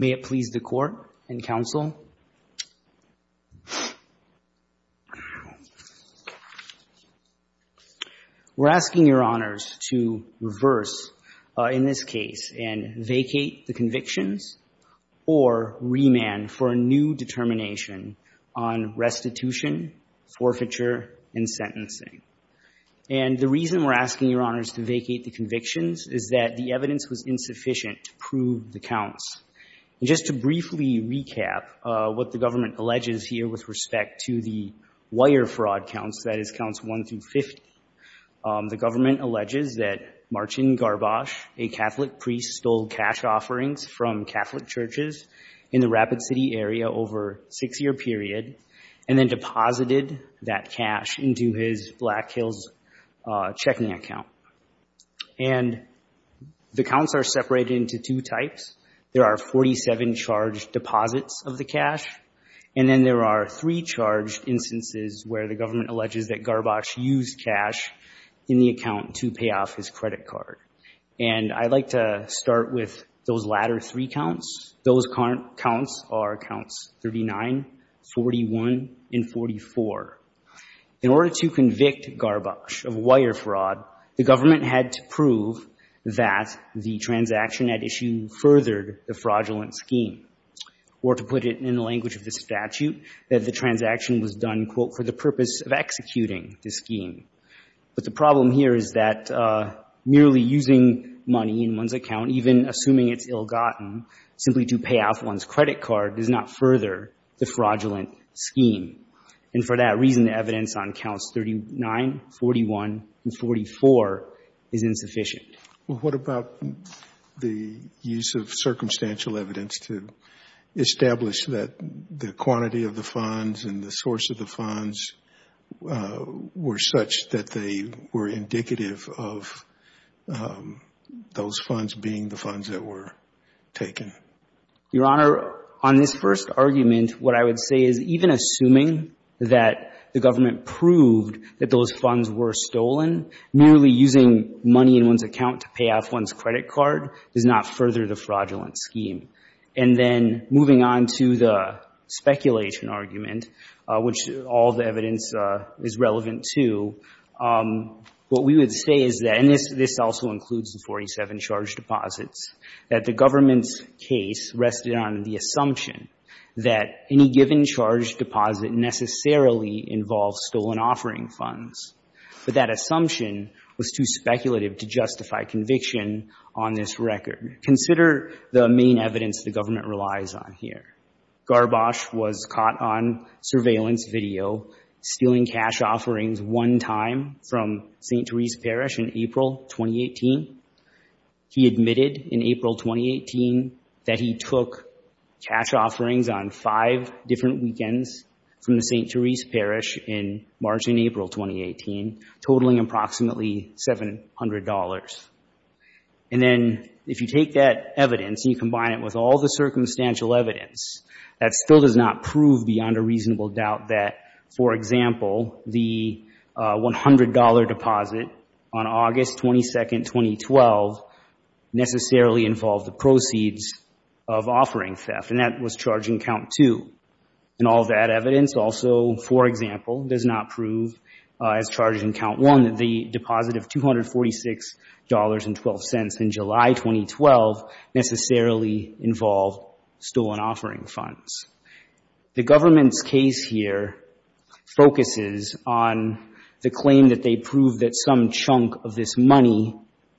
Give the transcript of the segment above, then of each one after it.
May it please the court and counsel. We're asking your honors to reverse, in this case, and vacate the convictions or remand for a new determination on restitution, forfeiture, and sentencing. And the reason we're asking your honors to vacate the convictions is that the evidence was insufficient to prove the counts. And just to briefly recap what the government alleges here with respect to the wire fraud counts, that is, counts 1 through 50. The government alleges that Marcin Garbacz, a Catholic priest, stole cash offerings from Catholic churches in the Rapid City area over a six-year period and then deposited that cash into his Black Hills checking account. And the counts are separated into two types. There are 47 charged deposits of the cash, and then there are three charged instances where the government alleges that Garbacz used cash in the account to pay off his credit card. And I'd like to start with those latter three counts. Those counts are counts 39, 41, and 44. In order to convict Garbacz of wire fraud, the government had to prove that the transaction at issue furthered the fraudulent scheme. Or to put it in the language of the statute, that the transaction was done, quote, for the purpose of executing the scheme. But the problem here is that merely using money in one's account, even assuming it's ill-gotten, simply to pay off one's credit card does not further the fraudulent scheme. And for that reason, the evidence on counts 39, 41, and 44 is insufficient. Well, what about the use of circumstantial evidence to establish that the quantity of the funds and the source of the funds were such that they were indicative of those funds being the funds that were taken? Your Honor, on this first argument, what I would say is even assuming that the government proved that those funds were stolen, merely using money in one's account to pay off one's credit card does not further the fraudulent scheme. And then moving on to the speculation argument, which all the evidence is relevant to, what we would say is that, and this also includes the 47 charged deposits, that the government's case rested on the assumption that any given charged deposit necessarily involves stolen offering funds. But that assumption was too speculative to justify conviction on this record. Consider the main evidence the government relies on here. Garbosh was caught on surveillance video stealing cash offerings one time from St. Therese Parish in April 2018. He admitted in April 2018 that he took cash offerings on five different weekends from the St. Therese Parish in March and April 2018, totaling approximately $700. And then if you take that evidence and you combine it with all the circumstantial evidence, that still does not prove beyond a reasonable doubt that, for example, the $100 deposit on August 22, 2012, necessarily involved the proceeds of offering theft. And that was charged in count two. And all that evidence also, for example, does not prove, as charged in count one, that the deposit of $246.12 in July 2012 necessarily involved stolen offering funds. The government's case here focuses on the claim that they proved that some chunk of this money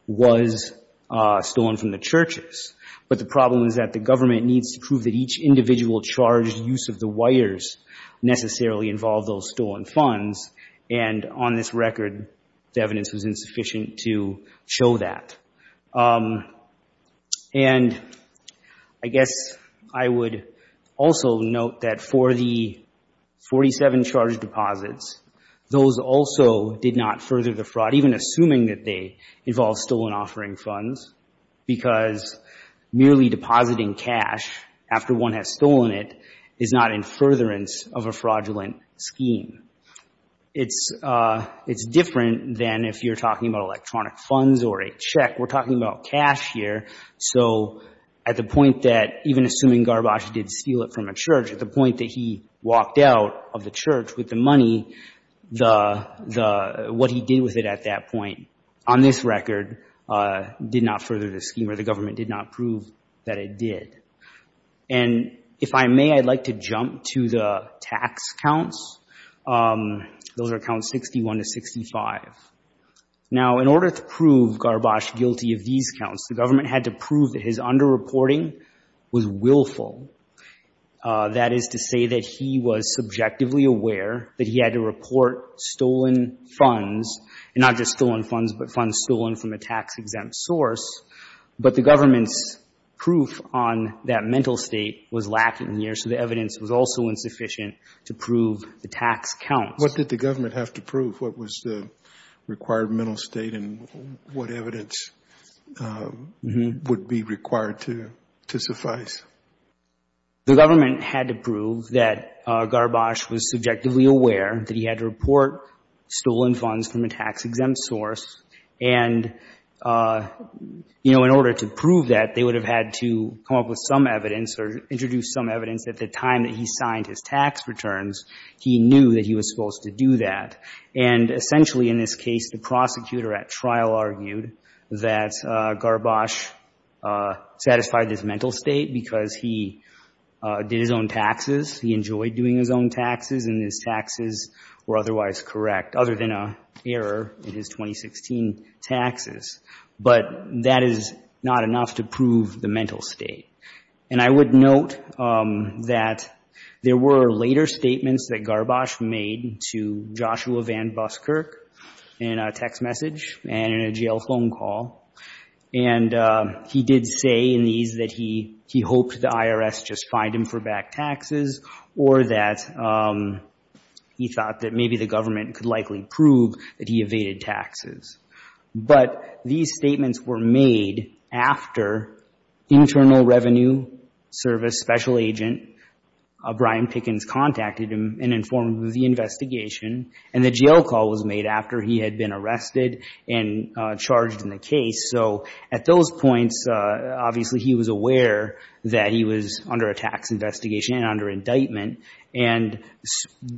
was stolen from the churches. But the problem is that the government needs to prove that each individual charged use of the wires necessarily involved those stolen funds. And on this record, the evidence was insufficient to show that. And I guess I would also note that for the 47 charged deposits, those also did not further the fraud, even assuming that they involved stolen offering funds, because merely depositing cash after one has stolen it is not in furtherance of a fraudulent scheme. It's different than if you're talking about electronic funds or a check. We're talking about cash here. So at the point that, even assuming Garbage did steal it from a church, at the point that he walked out of the church with the money, what he did with it at that point, on this record, did not further the scheme or the government did not prove that it did. And if I may, I'd like to jump to the tax counts. Those are accounts 61 to 65. Now, in order to prove Garbage guilty of these counts, the government had to prove that his underreporting was willful. That is to say that he was subjectively aware that he had to report stolen funds, and not just stolen funds, but funds stolen from a tax-exempt source. But the government's proof on that mental state was lacking here, so the evidence was also insufficient to prove the tax counts. What did the government have to prove? What was the required mental state and what evidence would be required to suffice? The government had to prove that Garbage was subjectively aware that he had to report stolen funds from a tax-exempt source. And, you know, in order to prove that, they would have had to come up with some evidence or introduce some evidence that the time that he signed his tax returns, he knew that he was supposed to do that. And essentially, in this case, the prosecutor at trial argued that Garbage satisfied this mental state because he did his own taxes, he enjoyed doing his own taxes, and his taxes were otherwise correct, other than an error in his 2016 taxes. But that is not enough to prove the mental state. And I would note that there were later statements that Garbage made to Joshua Van Buskirk in a text message and in a jail phone call. And he did say in these that he hoped the IRS just fined him for back taxes or that he thought that maybe the government could likely prove that he evaded taxes. But these statements were made after Internal Revenue Service Special Agent Brian Pickens contacted him and informed him of the investigation, and the jail call was made after he had been arrested and charged in the case. So at those points, obviously, he was aware that he was under a tax investigation and under indictment. And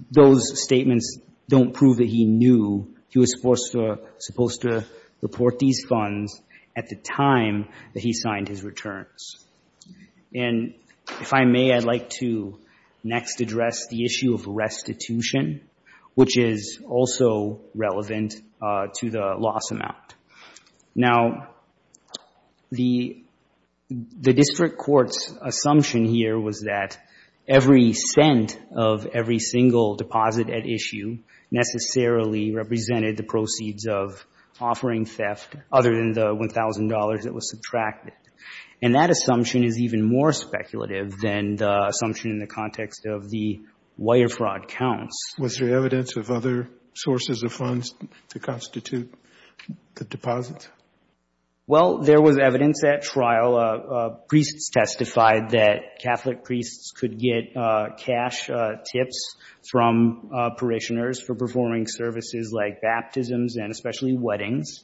those statements don't prove that he knew he was supposed to report these funds at the time that he signed his returns. And if I may, I'd like to next address the issue of restitution, which is also relevant to the loss amount. Now, the district court's assumption here was that every cent of every single deposit at issue necessarily represented the proceeds of offering theft, other than the $1,000 that was subtracted. And that assumption is even more speculative than the assumption in the context of the wire fraud counts. Was there evidence of other sources of funds to constitute the deposits? Well, there was evidence at trial. Priests testified that Catholic priests could get cash tips from parishioners for performing services like baptisms and especially weddings.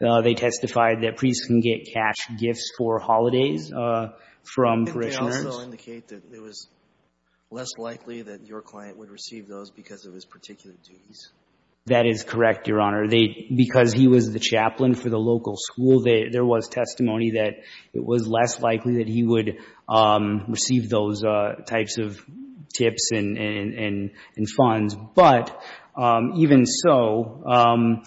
They testified that priests can get cash gifts for holidays from parishioners. Didn't they also indicate that it was less likely that your client would receive those because of his particular duties? That is correct, Your Honor. Because he was the chaplain for the local school, there was testimony that it was less likely that he would receive those types of tips and funds. But even so,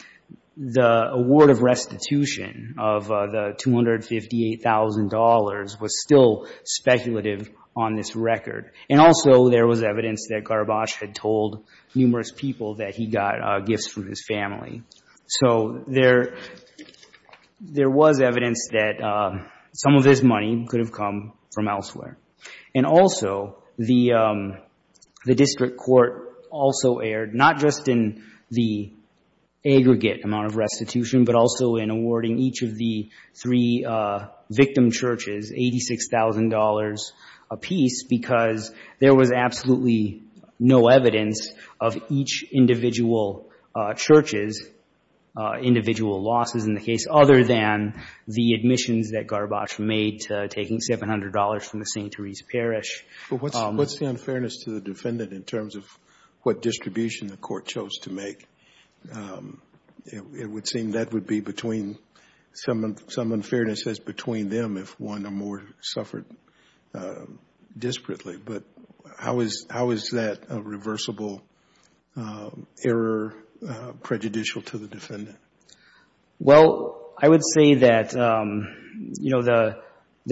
the award of restitution of the $258,000 was still speculative on this record. And also, there was evidence that Garbosh had told numerous people that he got gifts from his family. So there was evidence that some of this money could have come from elsewhere. And also, the district court also erred, not just in the aggregate amount of restitution, but also in awarding each of the three victim churches $86,000 apiece, because there was absolutely no evidence of each individual church's individual losses in the case other than the admissions that Garbosh made to taking $700 from the St. Teresa Parish. But what's the unfairness to the defendant in terms of what distribution the court chose to make? It would seem that would be between some unfairness as between them if one or more suffered disparately. But how is that a reversible error prejudicial to the defendant? Well, I would say that the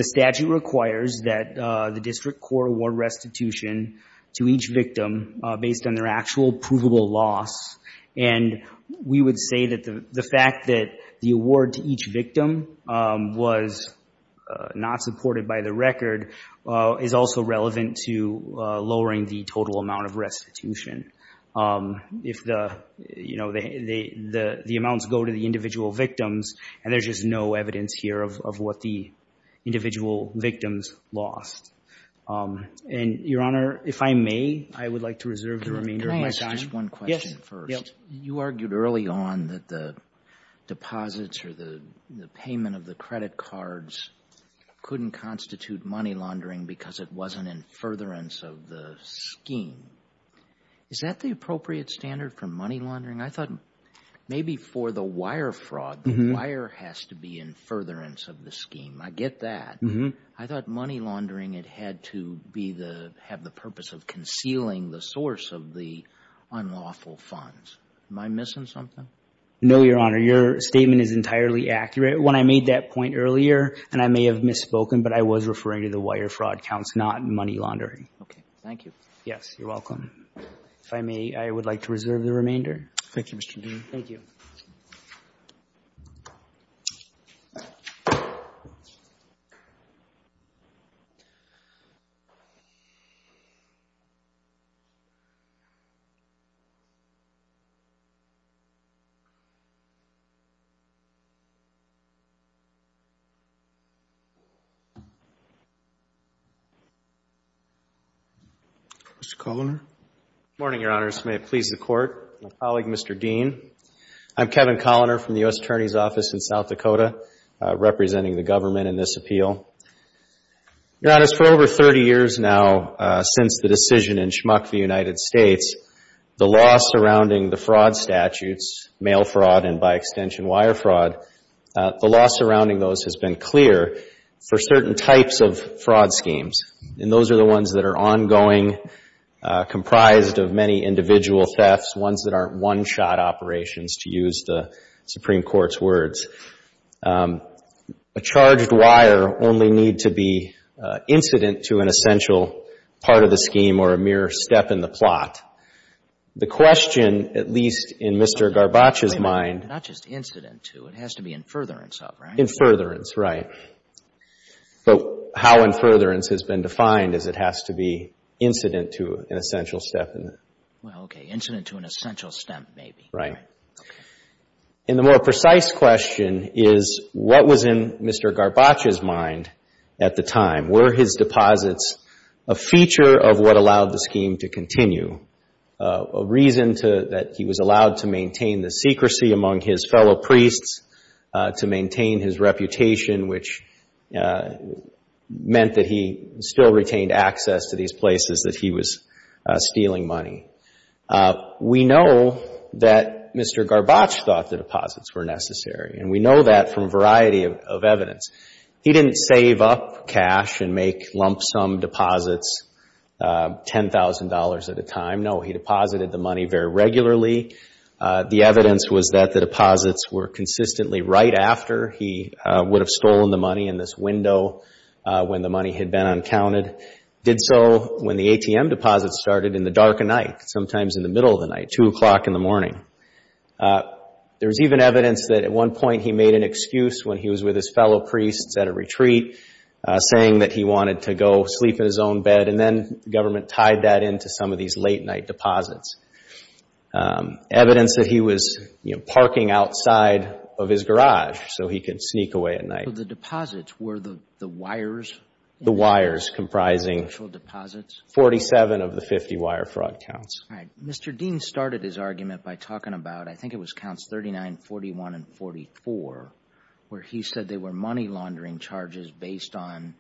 statute requires that the district court award restitution to each victim based on their actual provable loss. And we would say that the fact that the award to each victim was not supported by the record is also relevant to lowering the total amount of restitution. If the amounts go to the individual victims, and there's just no evidence here of what the individual victims lost. And, Your Honor, if I may, I would like to reserve the remainder of my time. Can I ask just one question first? Yes. You argued early on that the deposits or the payment of the credit cards couldn't constitute money laundering because it wasn't in furtherance of the scheme. Is that the appropriate standard for money laundering? I thought maybe for the wire fraud, the wire has to be in furtherance of the scheme. I get that. I thought money laundering, it had to have the purpose of concealing the source of the unlawful funds. Am I missing something? No, Your Honor. Your statement is entirely accurate. When I made that point earlier, and I may have misspoken, but I was referring to the wire fraud counts, not money laundering. Okay. Thank you. Yes, you're welcome. If I may, I would like to reserve the remainder. Thank you, Mr. Dean. Thank you. Mr. Coloner. Good morning, Your Honors. May it please the Court. I'm a colleague of Mr. Dean. I'm Kevin Coloner from the U.S. Attorney's Office in South Dakota, representing the government in this appeal. Your Honors, for over 30 years now since the decision in Schmuck v. United States, the law surrounding the fraud statutes, mail fraud and, by extension, wire fraud, the law surrounding those has been clear for certain types of fraud schemes, and those are the ones that are ongoing, comprised of many individual thefts, ones that aren't one-shot operations, to use the Supreme Court's words. A charged wire only need to be incident to an essential part of the scheme or a mere step in the plot. The question, at least in Mr. Garbaccia's mind. Not just incident to, it has to be in furtherance of, right? In furtherance, right. But how in furtherance has been defined is it has to be incident to an essential step. Well, okay, incident to an essential step, maybe. Right. And the more precise question is, what was in Mr. Garbaccia's mind at the time? Were his deposits a feature of what allowed the scheme to continue, a reason that he was allowed to maintain the secrecy among his fellow priests, to maintain his reputation, which meant that he still retained access to these places that he was stealing money? We know that Mr. Garbaccia thought the deposits were necessary, and we know that from a variety of evidence. He didn't save up cash and make lump sum deposits $10,000 at a time. No, he deposited the money very regularly. The evidence was that the deposits were consistently right after he would have stolen the money, in this window when the money had been uncounted. Did so when the ATM deposits started in the dark of night, sometimes in the middle of the night, 2 o'clock in the morning. There's even evidence that at one point he made an excuse when he was with his fellow priests at a retreat, saying that he wanted to go sleep in his own bed, and then the government tied that into some of these late night deposits. Evidence that he was parking outside of his garage so he could sneak away at night. The deposits were the wires? The wires comprising 47 of the 50 wire fraud counts. Mr. Dean started his argument by talking about, I think it was counts 39, 41, and 44, where he said they were money laundering charges based on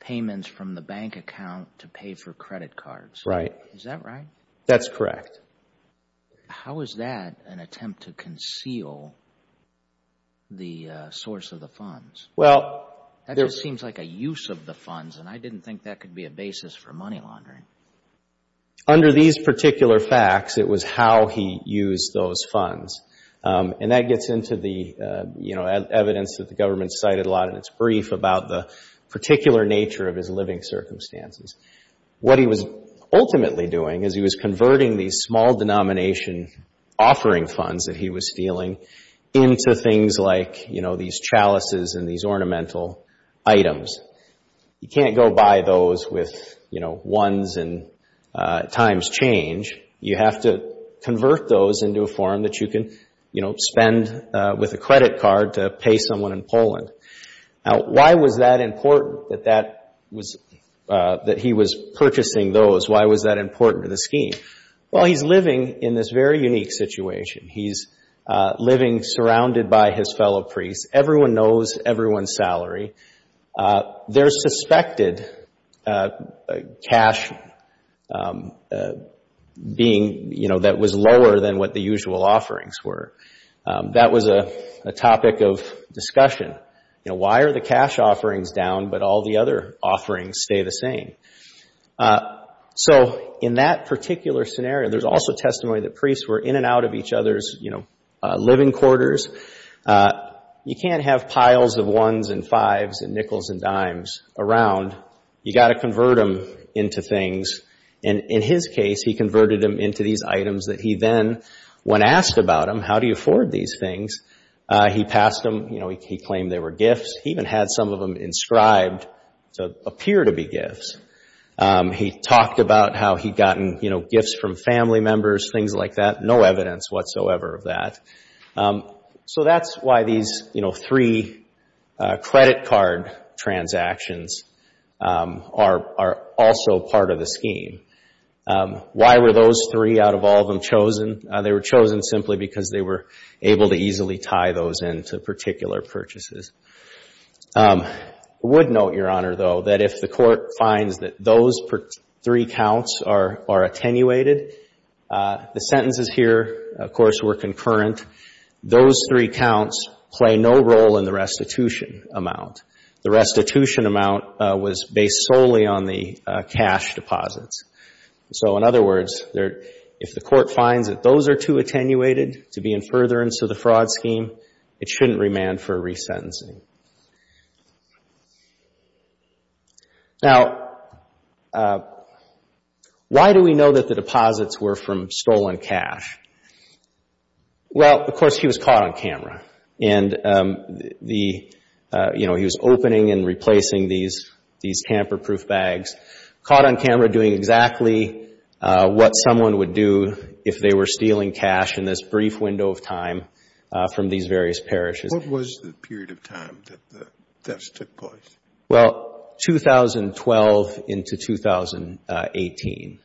payments from the bank account to pay for credit cards. Right. Is that right? That's correct. How is that an attempt to conceal the source of the funds? That just seems like a use of the funds, and I didn't think that could be a basis for money laundering. Under these particular facts, it was how he used those funds. That gets into the evidence that the government cited a lot in its brief about the particular nature of his living circumstances. What he was ultimately doing is he was converting these small denomination offering funds that he was stealing into things like these chalices and these ornamental items. You can't go buy those with ones and times change. You have to convert those into a form that you can spend with a credit card to pay someone in Poland. Why was that important that he was purchasing those? Why was that important to the scheme? Well, he's living in this very unique situation. He's living surrounded by his fellow priests. Everyone knows everyone's salary. There's suspected cash that was lower than what the usual offerings were. That was a topic of discussion. Why are the cash offerings down, but all the other offerings stay the same? In that particular scenario, there's also testimony that priests were in and out of each other's living quarters. You can't have piles of ones and fives and nickels and dimes around. You've got to convert them into things. In his case, he converted them into these items that he then, when asked about them, how do you afford these things, he passed them. He claimed they were gifts. He even had some of them inscribed to appear to be gifts. He talked about how he'd gotten gifts from family members, things like that. There's no evidence whatsoever of that. That's why these three credit card transactions are also part of the scheme. Why were those three out of all of them chosen? They were chosen simply because they were able to easily tie those into particular purchases. I would note, Your Honor, though, that if the court finds that those three counts are attenuated, the sentences here, of course, were concurrent. Those three counts play no role in the restitution amount. The restitution amount was based solely on the cash deposits. In other words, if the court finds that those are too attenuated to be in furtherance of the fraud scheme, it shouldn't remand for resentencing. Now, why do we know that the deposits were from stolen cash? Well, of course, he was caught on camera. And he was opening and replacing these tamper-proof bags, caught on camera doing exactly what someone would do if they were stealing cash in this brief window of time from these various parishes. What was the period of time that the thefts took place? Well, 2012 into 2018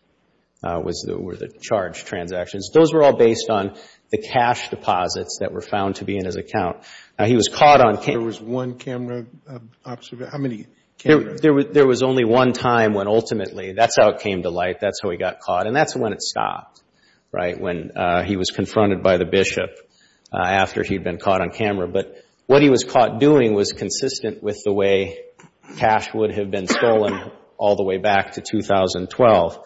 were the charged transactions. Those were all based on the cash deposits that were found to be in his account. Now, he was caught on camera. There was one camera observation? How many cameras? There was only one time when ultimately that's how it came to light. That's how he got caught. And that's when it stopped, right, when he was confronted by the bishop after he'd been caught on camera. But what he was caught doing was consistent with the way cash would have been stolen all the way back to 2012.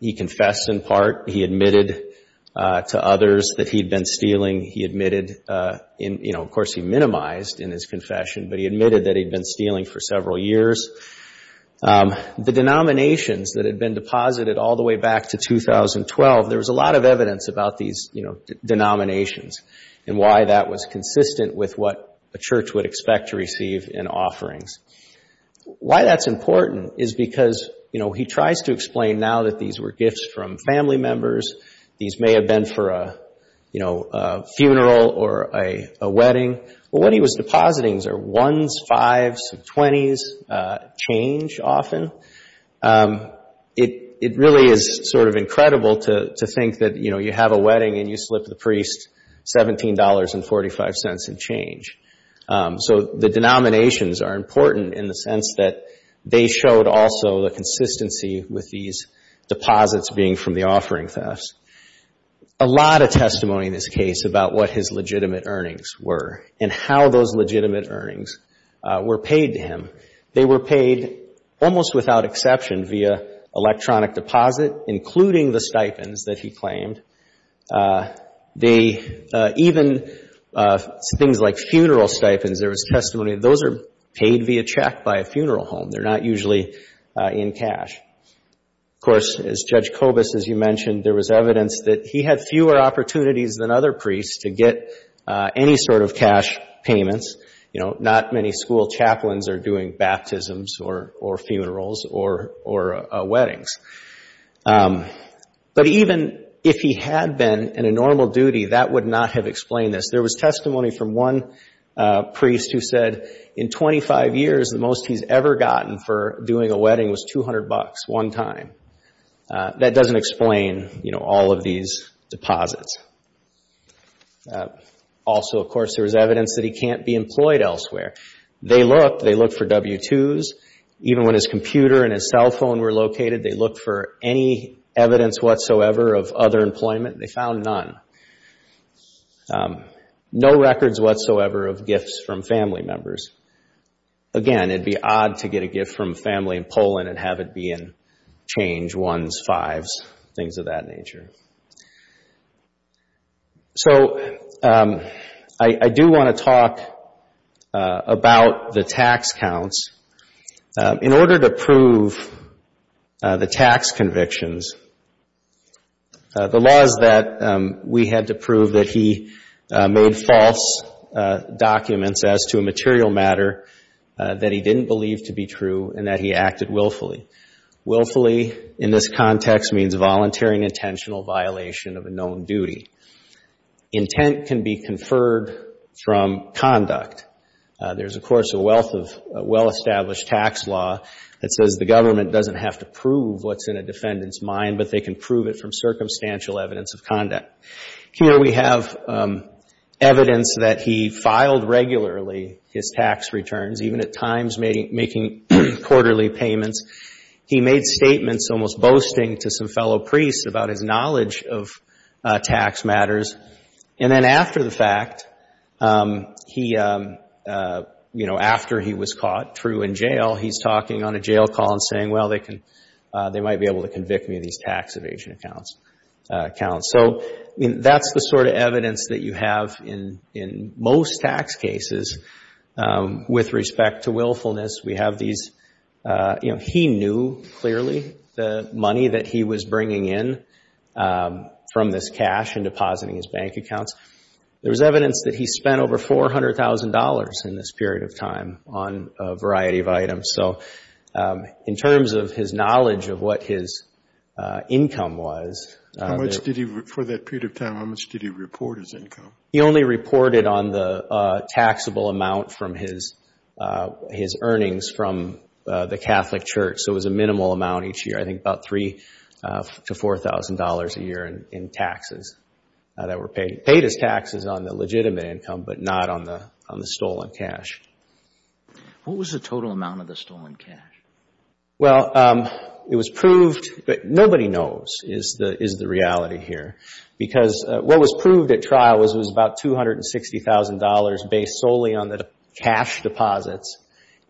He confessed in part. He admitted to others that he'd been stealing. He admitted in, you know, of course he minimized in his confession, but he admitted that he'd been stealing for several years. The denominations that had been deposited all the way back to 2012, there was a lot of evidence about these denominations and why that was consistent with what a church would expect to receive in offerings. Why that's important is because he tries to explain now that these were gifts from family members. These may have been for a funeral or a wedding. What he was depositing are ones, fives, and twenties, change often. It really is sort of incredible to think that, you know, you have a wedding and you slip the priest $17.45 in change. So the denominations are important in the sense that they showed also the consistency with these deposits being from the offering thefts. A lot of testimony in this case about what his legitimate earnings were and how those legitimate earnings were paid to him. They were paid almost without exception via electronic deposit, including the stipends that he claimed. They, even things like funeral stipends, there was testimony, those are paid via check by a funeral home. They're not usually in cash. Of course, as Judge Kobus, as you mentioned, there was evidence that he had fewer opportunities than other priests to get any sort of cash payments. You know, not many school chaplains are doing baptisms or funerals or weddings. But even if he had been in a normal duty, that would not have explained this. There was testimony from one priest who said in 25 years, the most he's ever gotten for doing a wedding was $200 one time. That doesn't explain, you know, all of these deposits. Also, of course, there was evidence that he can't be employed elsewhere. They looked. They looked for W-2s. Even when his computer and his cell phone were located, they looked for any evidence whatsoever of other employment. They found none. No records whatsoever of gifts from family members. Again, it'd be odd to get a gift from family in Poland and have it be in change, ones, fives, things of that nature. So I do want to talk about the tax counts. In order to prove the tax convictions, the laws that we had to prove that he made false documents as to a material matter that he didn't believe to be true and that he acted willfully. Willfully in this context means volunteering intentional violation of a known duty. Intent can be conferred from conduct. There's, of course, a wealth of well-established tax law that says the government doesn't have to prove what's in a defendant's mind, but they can prove it from circumstantial evidence of conduct. Here we have evidence that he filed regularly his tax returns, even at times making quarterly payments. He made statements almost boasting to some fellow priests about his knowledge of tax matters. And then after the fact, after he was caught true in jail, he's talking on a jail call and saying, well, they might be able to convict me of these tax evasion accounts. So that's the sort of evidence that you have in most tax cases with respect to willfulness. We have these, you know, he knew clearly the money that he was bringing in from this cash and depositing his bank accounts. There's evidence that he spent over $400,000 in this period of time on a variety of items. So in terms of his knowledge of what his income was. How much did he, for that period of time, how much did he report as income? He only reported on the taxable amount from his earnings from the Catholic Church. So it was a minimal amount each year, I think about $3,000 to $4,000 a year in taxes that were paid as taxes on the legitimate income, but not on the stolen cash. What was the total amount of the stolen cash? Well, it was proved, but nobody knows is the reality here. Because what was proved at trial was it was about $260,000 based solely on the cash deposits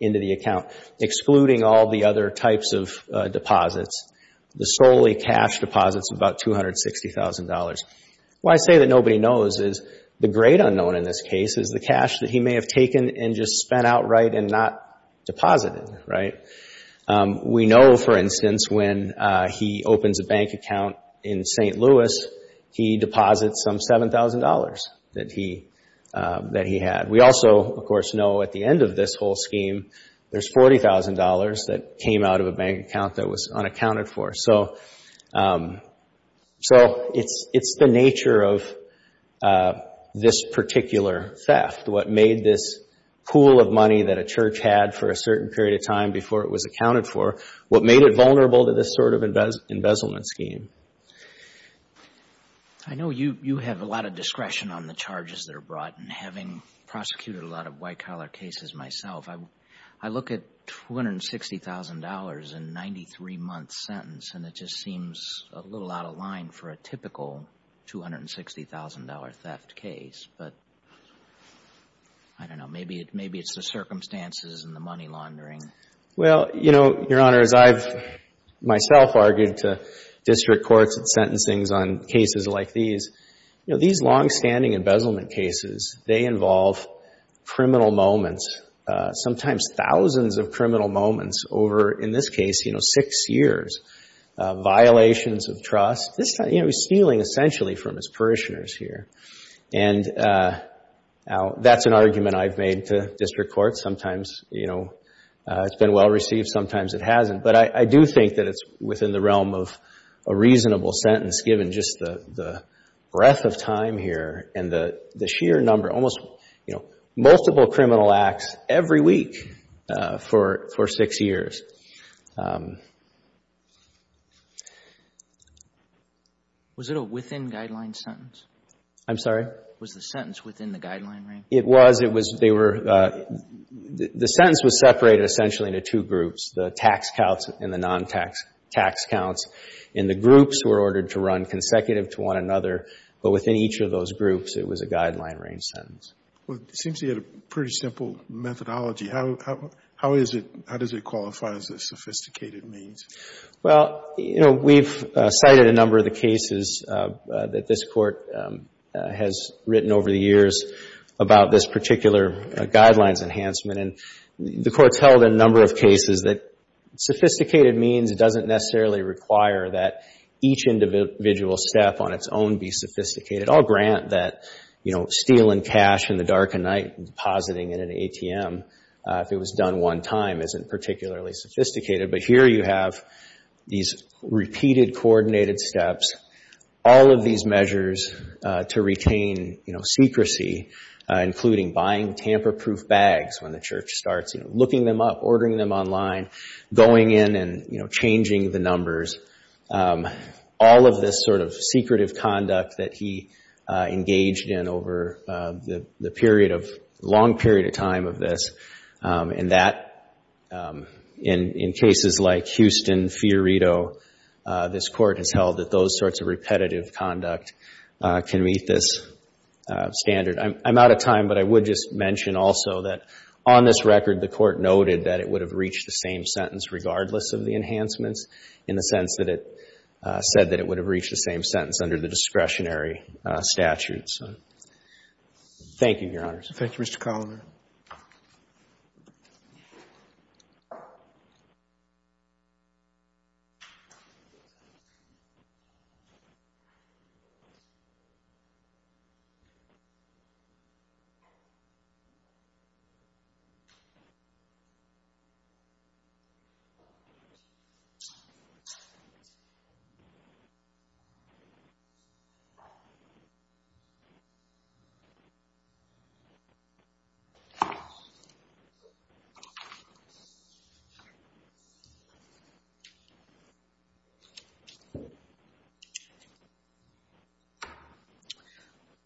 into the account, excluding all the other types of deposits. The solely cash deposits, about $260,000. What I say that nobody knows is the great unknown in this case is the cash that he may have taken and just spent outright and not deposited. We know, for instance, when he opens a bank account in St. Louis, he deposits some $7,000 that he had. We also, of course, know at the end of this whole scheme, there's $40,000 that came out of a bank account that was unaccounted for. So it's the nature of this particular theft, what made this pool of money that a church had for a certain period of time before it was accounted for, what made it vulnerable to this sort of embezzlement scheme. I know you have a lot of discretion on the charges that are brought, and having prosecuted a lot of white-collar cases myself, I look at $260,000 in a 93-month sentence, and it just seems a little out of line for a typical $260,000 theft case. But, I don't know, maybe it's the circumstances and the money laundering. Well, you know, Your Honor, as I've myself argued to district courts and sentencings on cases like these, these long-standing embezzlement cases, they involve criminal moments, sometimes thousands of criminal moments over, in this case, six years, violations of trust, stealing essentially from his parishioners here. And that's an argument I've made to district courts. Sometimes it's been well-received, sometimes it hasn't. But I do think that it's within the realm of a reasonable sentence given just the breadth of time here and the sheer number, almost, you know, multiple criminal acts every week for six years. Was it a within-guideline sentence? I'm sorry? Was the sentence within the guideline range? It was. The sentence was separated essentially into two groups, the tax counts and the non-tax tax counts. And the groups were ordered to run consecutive to one another. But within each of those groups, it was a guideline range sentence. Well, it seems you had a pretty simple methodology. How is it, how does it qualify as a sophisticated means? Well, you know, we've cited a number of the cases that this Court has written over the years about this particular guidelines enhancement. And the Court's held in a number of cases that sophisticated means doesn't necessarily require that each individual step on its own be sophisticated. I'll grant that, you know, stealing cash in the dark of night and depositing it in an ATM if it was done one time isn't particularly sophisticated. But here you have these repeated coordinated steps, all of these measures to retain, you know, secrecy, including buying tamper-proof bags when the church starts, you know, looking them up, ordering them online, going in and, you know, changing the numbers, all of this sort of secretive conduct that he engaged in over the period of, long period of time of this. And that, in cases like Houston, Fiorito, this Court has held that those sorts of repetitive conduct can meet this standard. I'm out of time, but I would just mention also that on this record, the Court noted that it would have reached the same sentence regardless of the enhancements in the sense that it said that it would have reached the same sentence under the discretionary statutes. Thank you, Your Honors. Thank you, Mr. Coloner.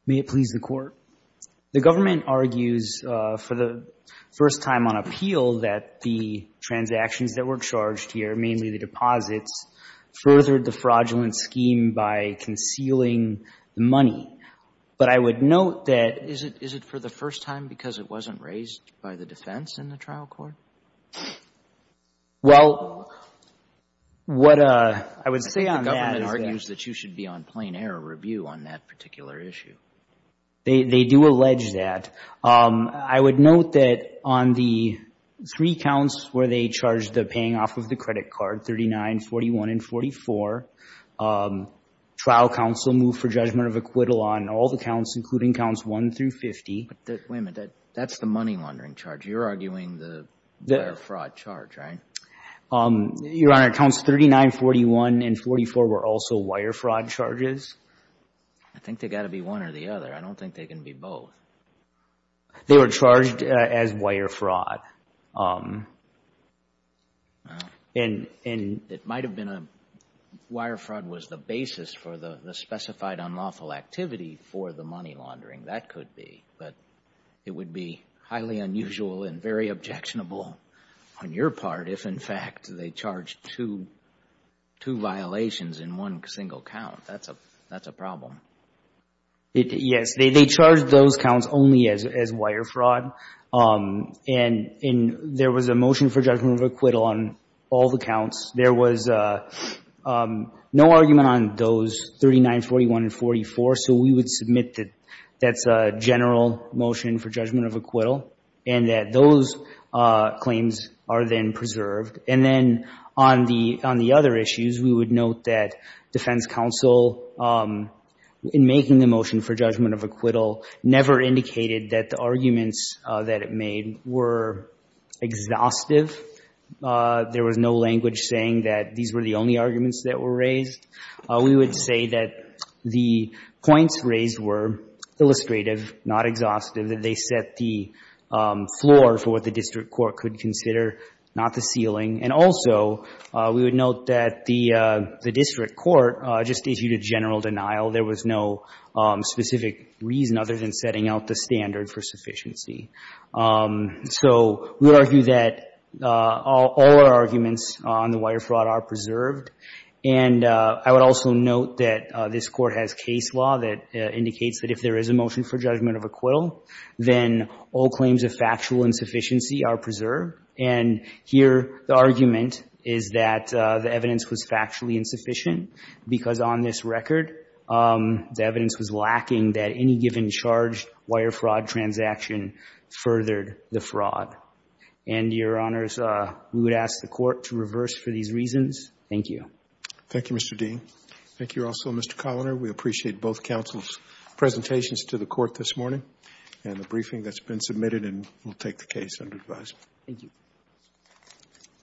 May it please the Court. The government argues for the first time on appeal that the transactions that were charged here, mainly the deposits, furthered the fraudulent scheme by concealing the money. But I would note that- Is it for the first time because it wasn't raised by the defense in the trial court? Well, what I would say on that is that- I think the government argues that you should be on plain error review on that particular issue. They do allege that. I would note that on the three counts where they charged the paying off of the credit card, 39, 41, and 44, trial counsel moved for judgment of acquittal on all the counts, including counts 1 through 50. Wait a minute. That's the money laundering charge. You're arguing the wire fraud charge, right? Your Honor, counts 39, 41, and 44 were also wire fraud charges. I think they've got to be one or the other. I don't think they can be both. They were charged as wire fraud. It might have been wire fraud was the basis for the specified unlawful activity for the money laundering. That could be. But it would be highly unusual and very objectionable on your part if, in fact, they charged two violations in one single count. That's a problem. Yes. They charged those counts only as wire fraud. And there was a motion for judgment of acquittal on all the counts. There was no argument on those 39, 41, and 44, so we would submit that that's a general motion for judgment of acquittal and that those claims are then preserved. And then on the other issues, we would note that defense counsel, in making the motion for judgment of acquittal, never indicated that the arguments that it made were exhaustive. There was no language saying that these were the only arguments that were raised. We would say that the points raised were illustrative, not exhaustive, that they set the floor for what the district court could consider, not the ceiling. And also, we would note that the district court just issued a general denial. There was no specific reason other than setting out the standard for sufficiency. So we argue that all our arguments on the wire fraud are preserved. And I would also note that this Court has case law that indicates that if there is a motion for judgment of acquittal, then all claims of factual insufficiency are preserved. And here, the argument is that the evidence was factually insufficient because on this record, the evidence was lacking that any given charged wire fraud transaction furthered the fraud. And, Your Honors, we would ask the Court to reverse for these reasons. Thank you. Thank you, Mr. Dean. Thank you also, Mr. Coloner. We appreciate both counsel's presentations to the Court this morning and the briefing that's been submitted, and we'll take the case under advisement. Thank you.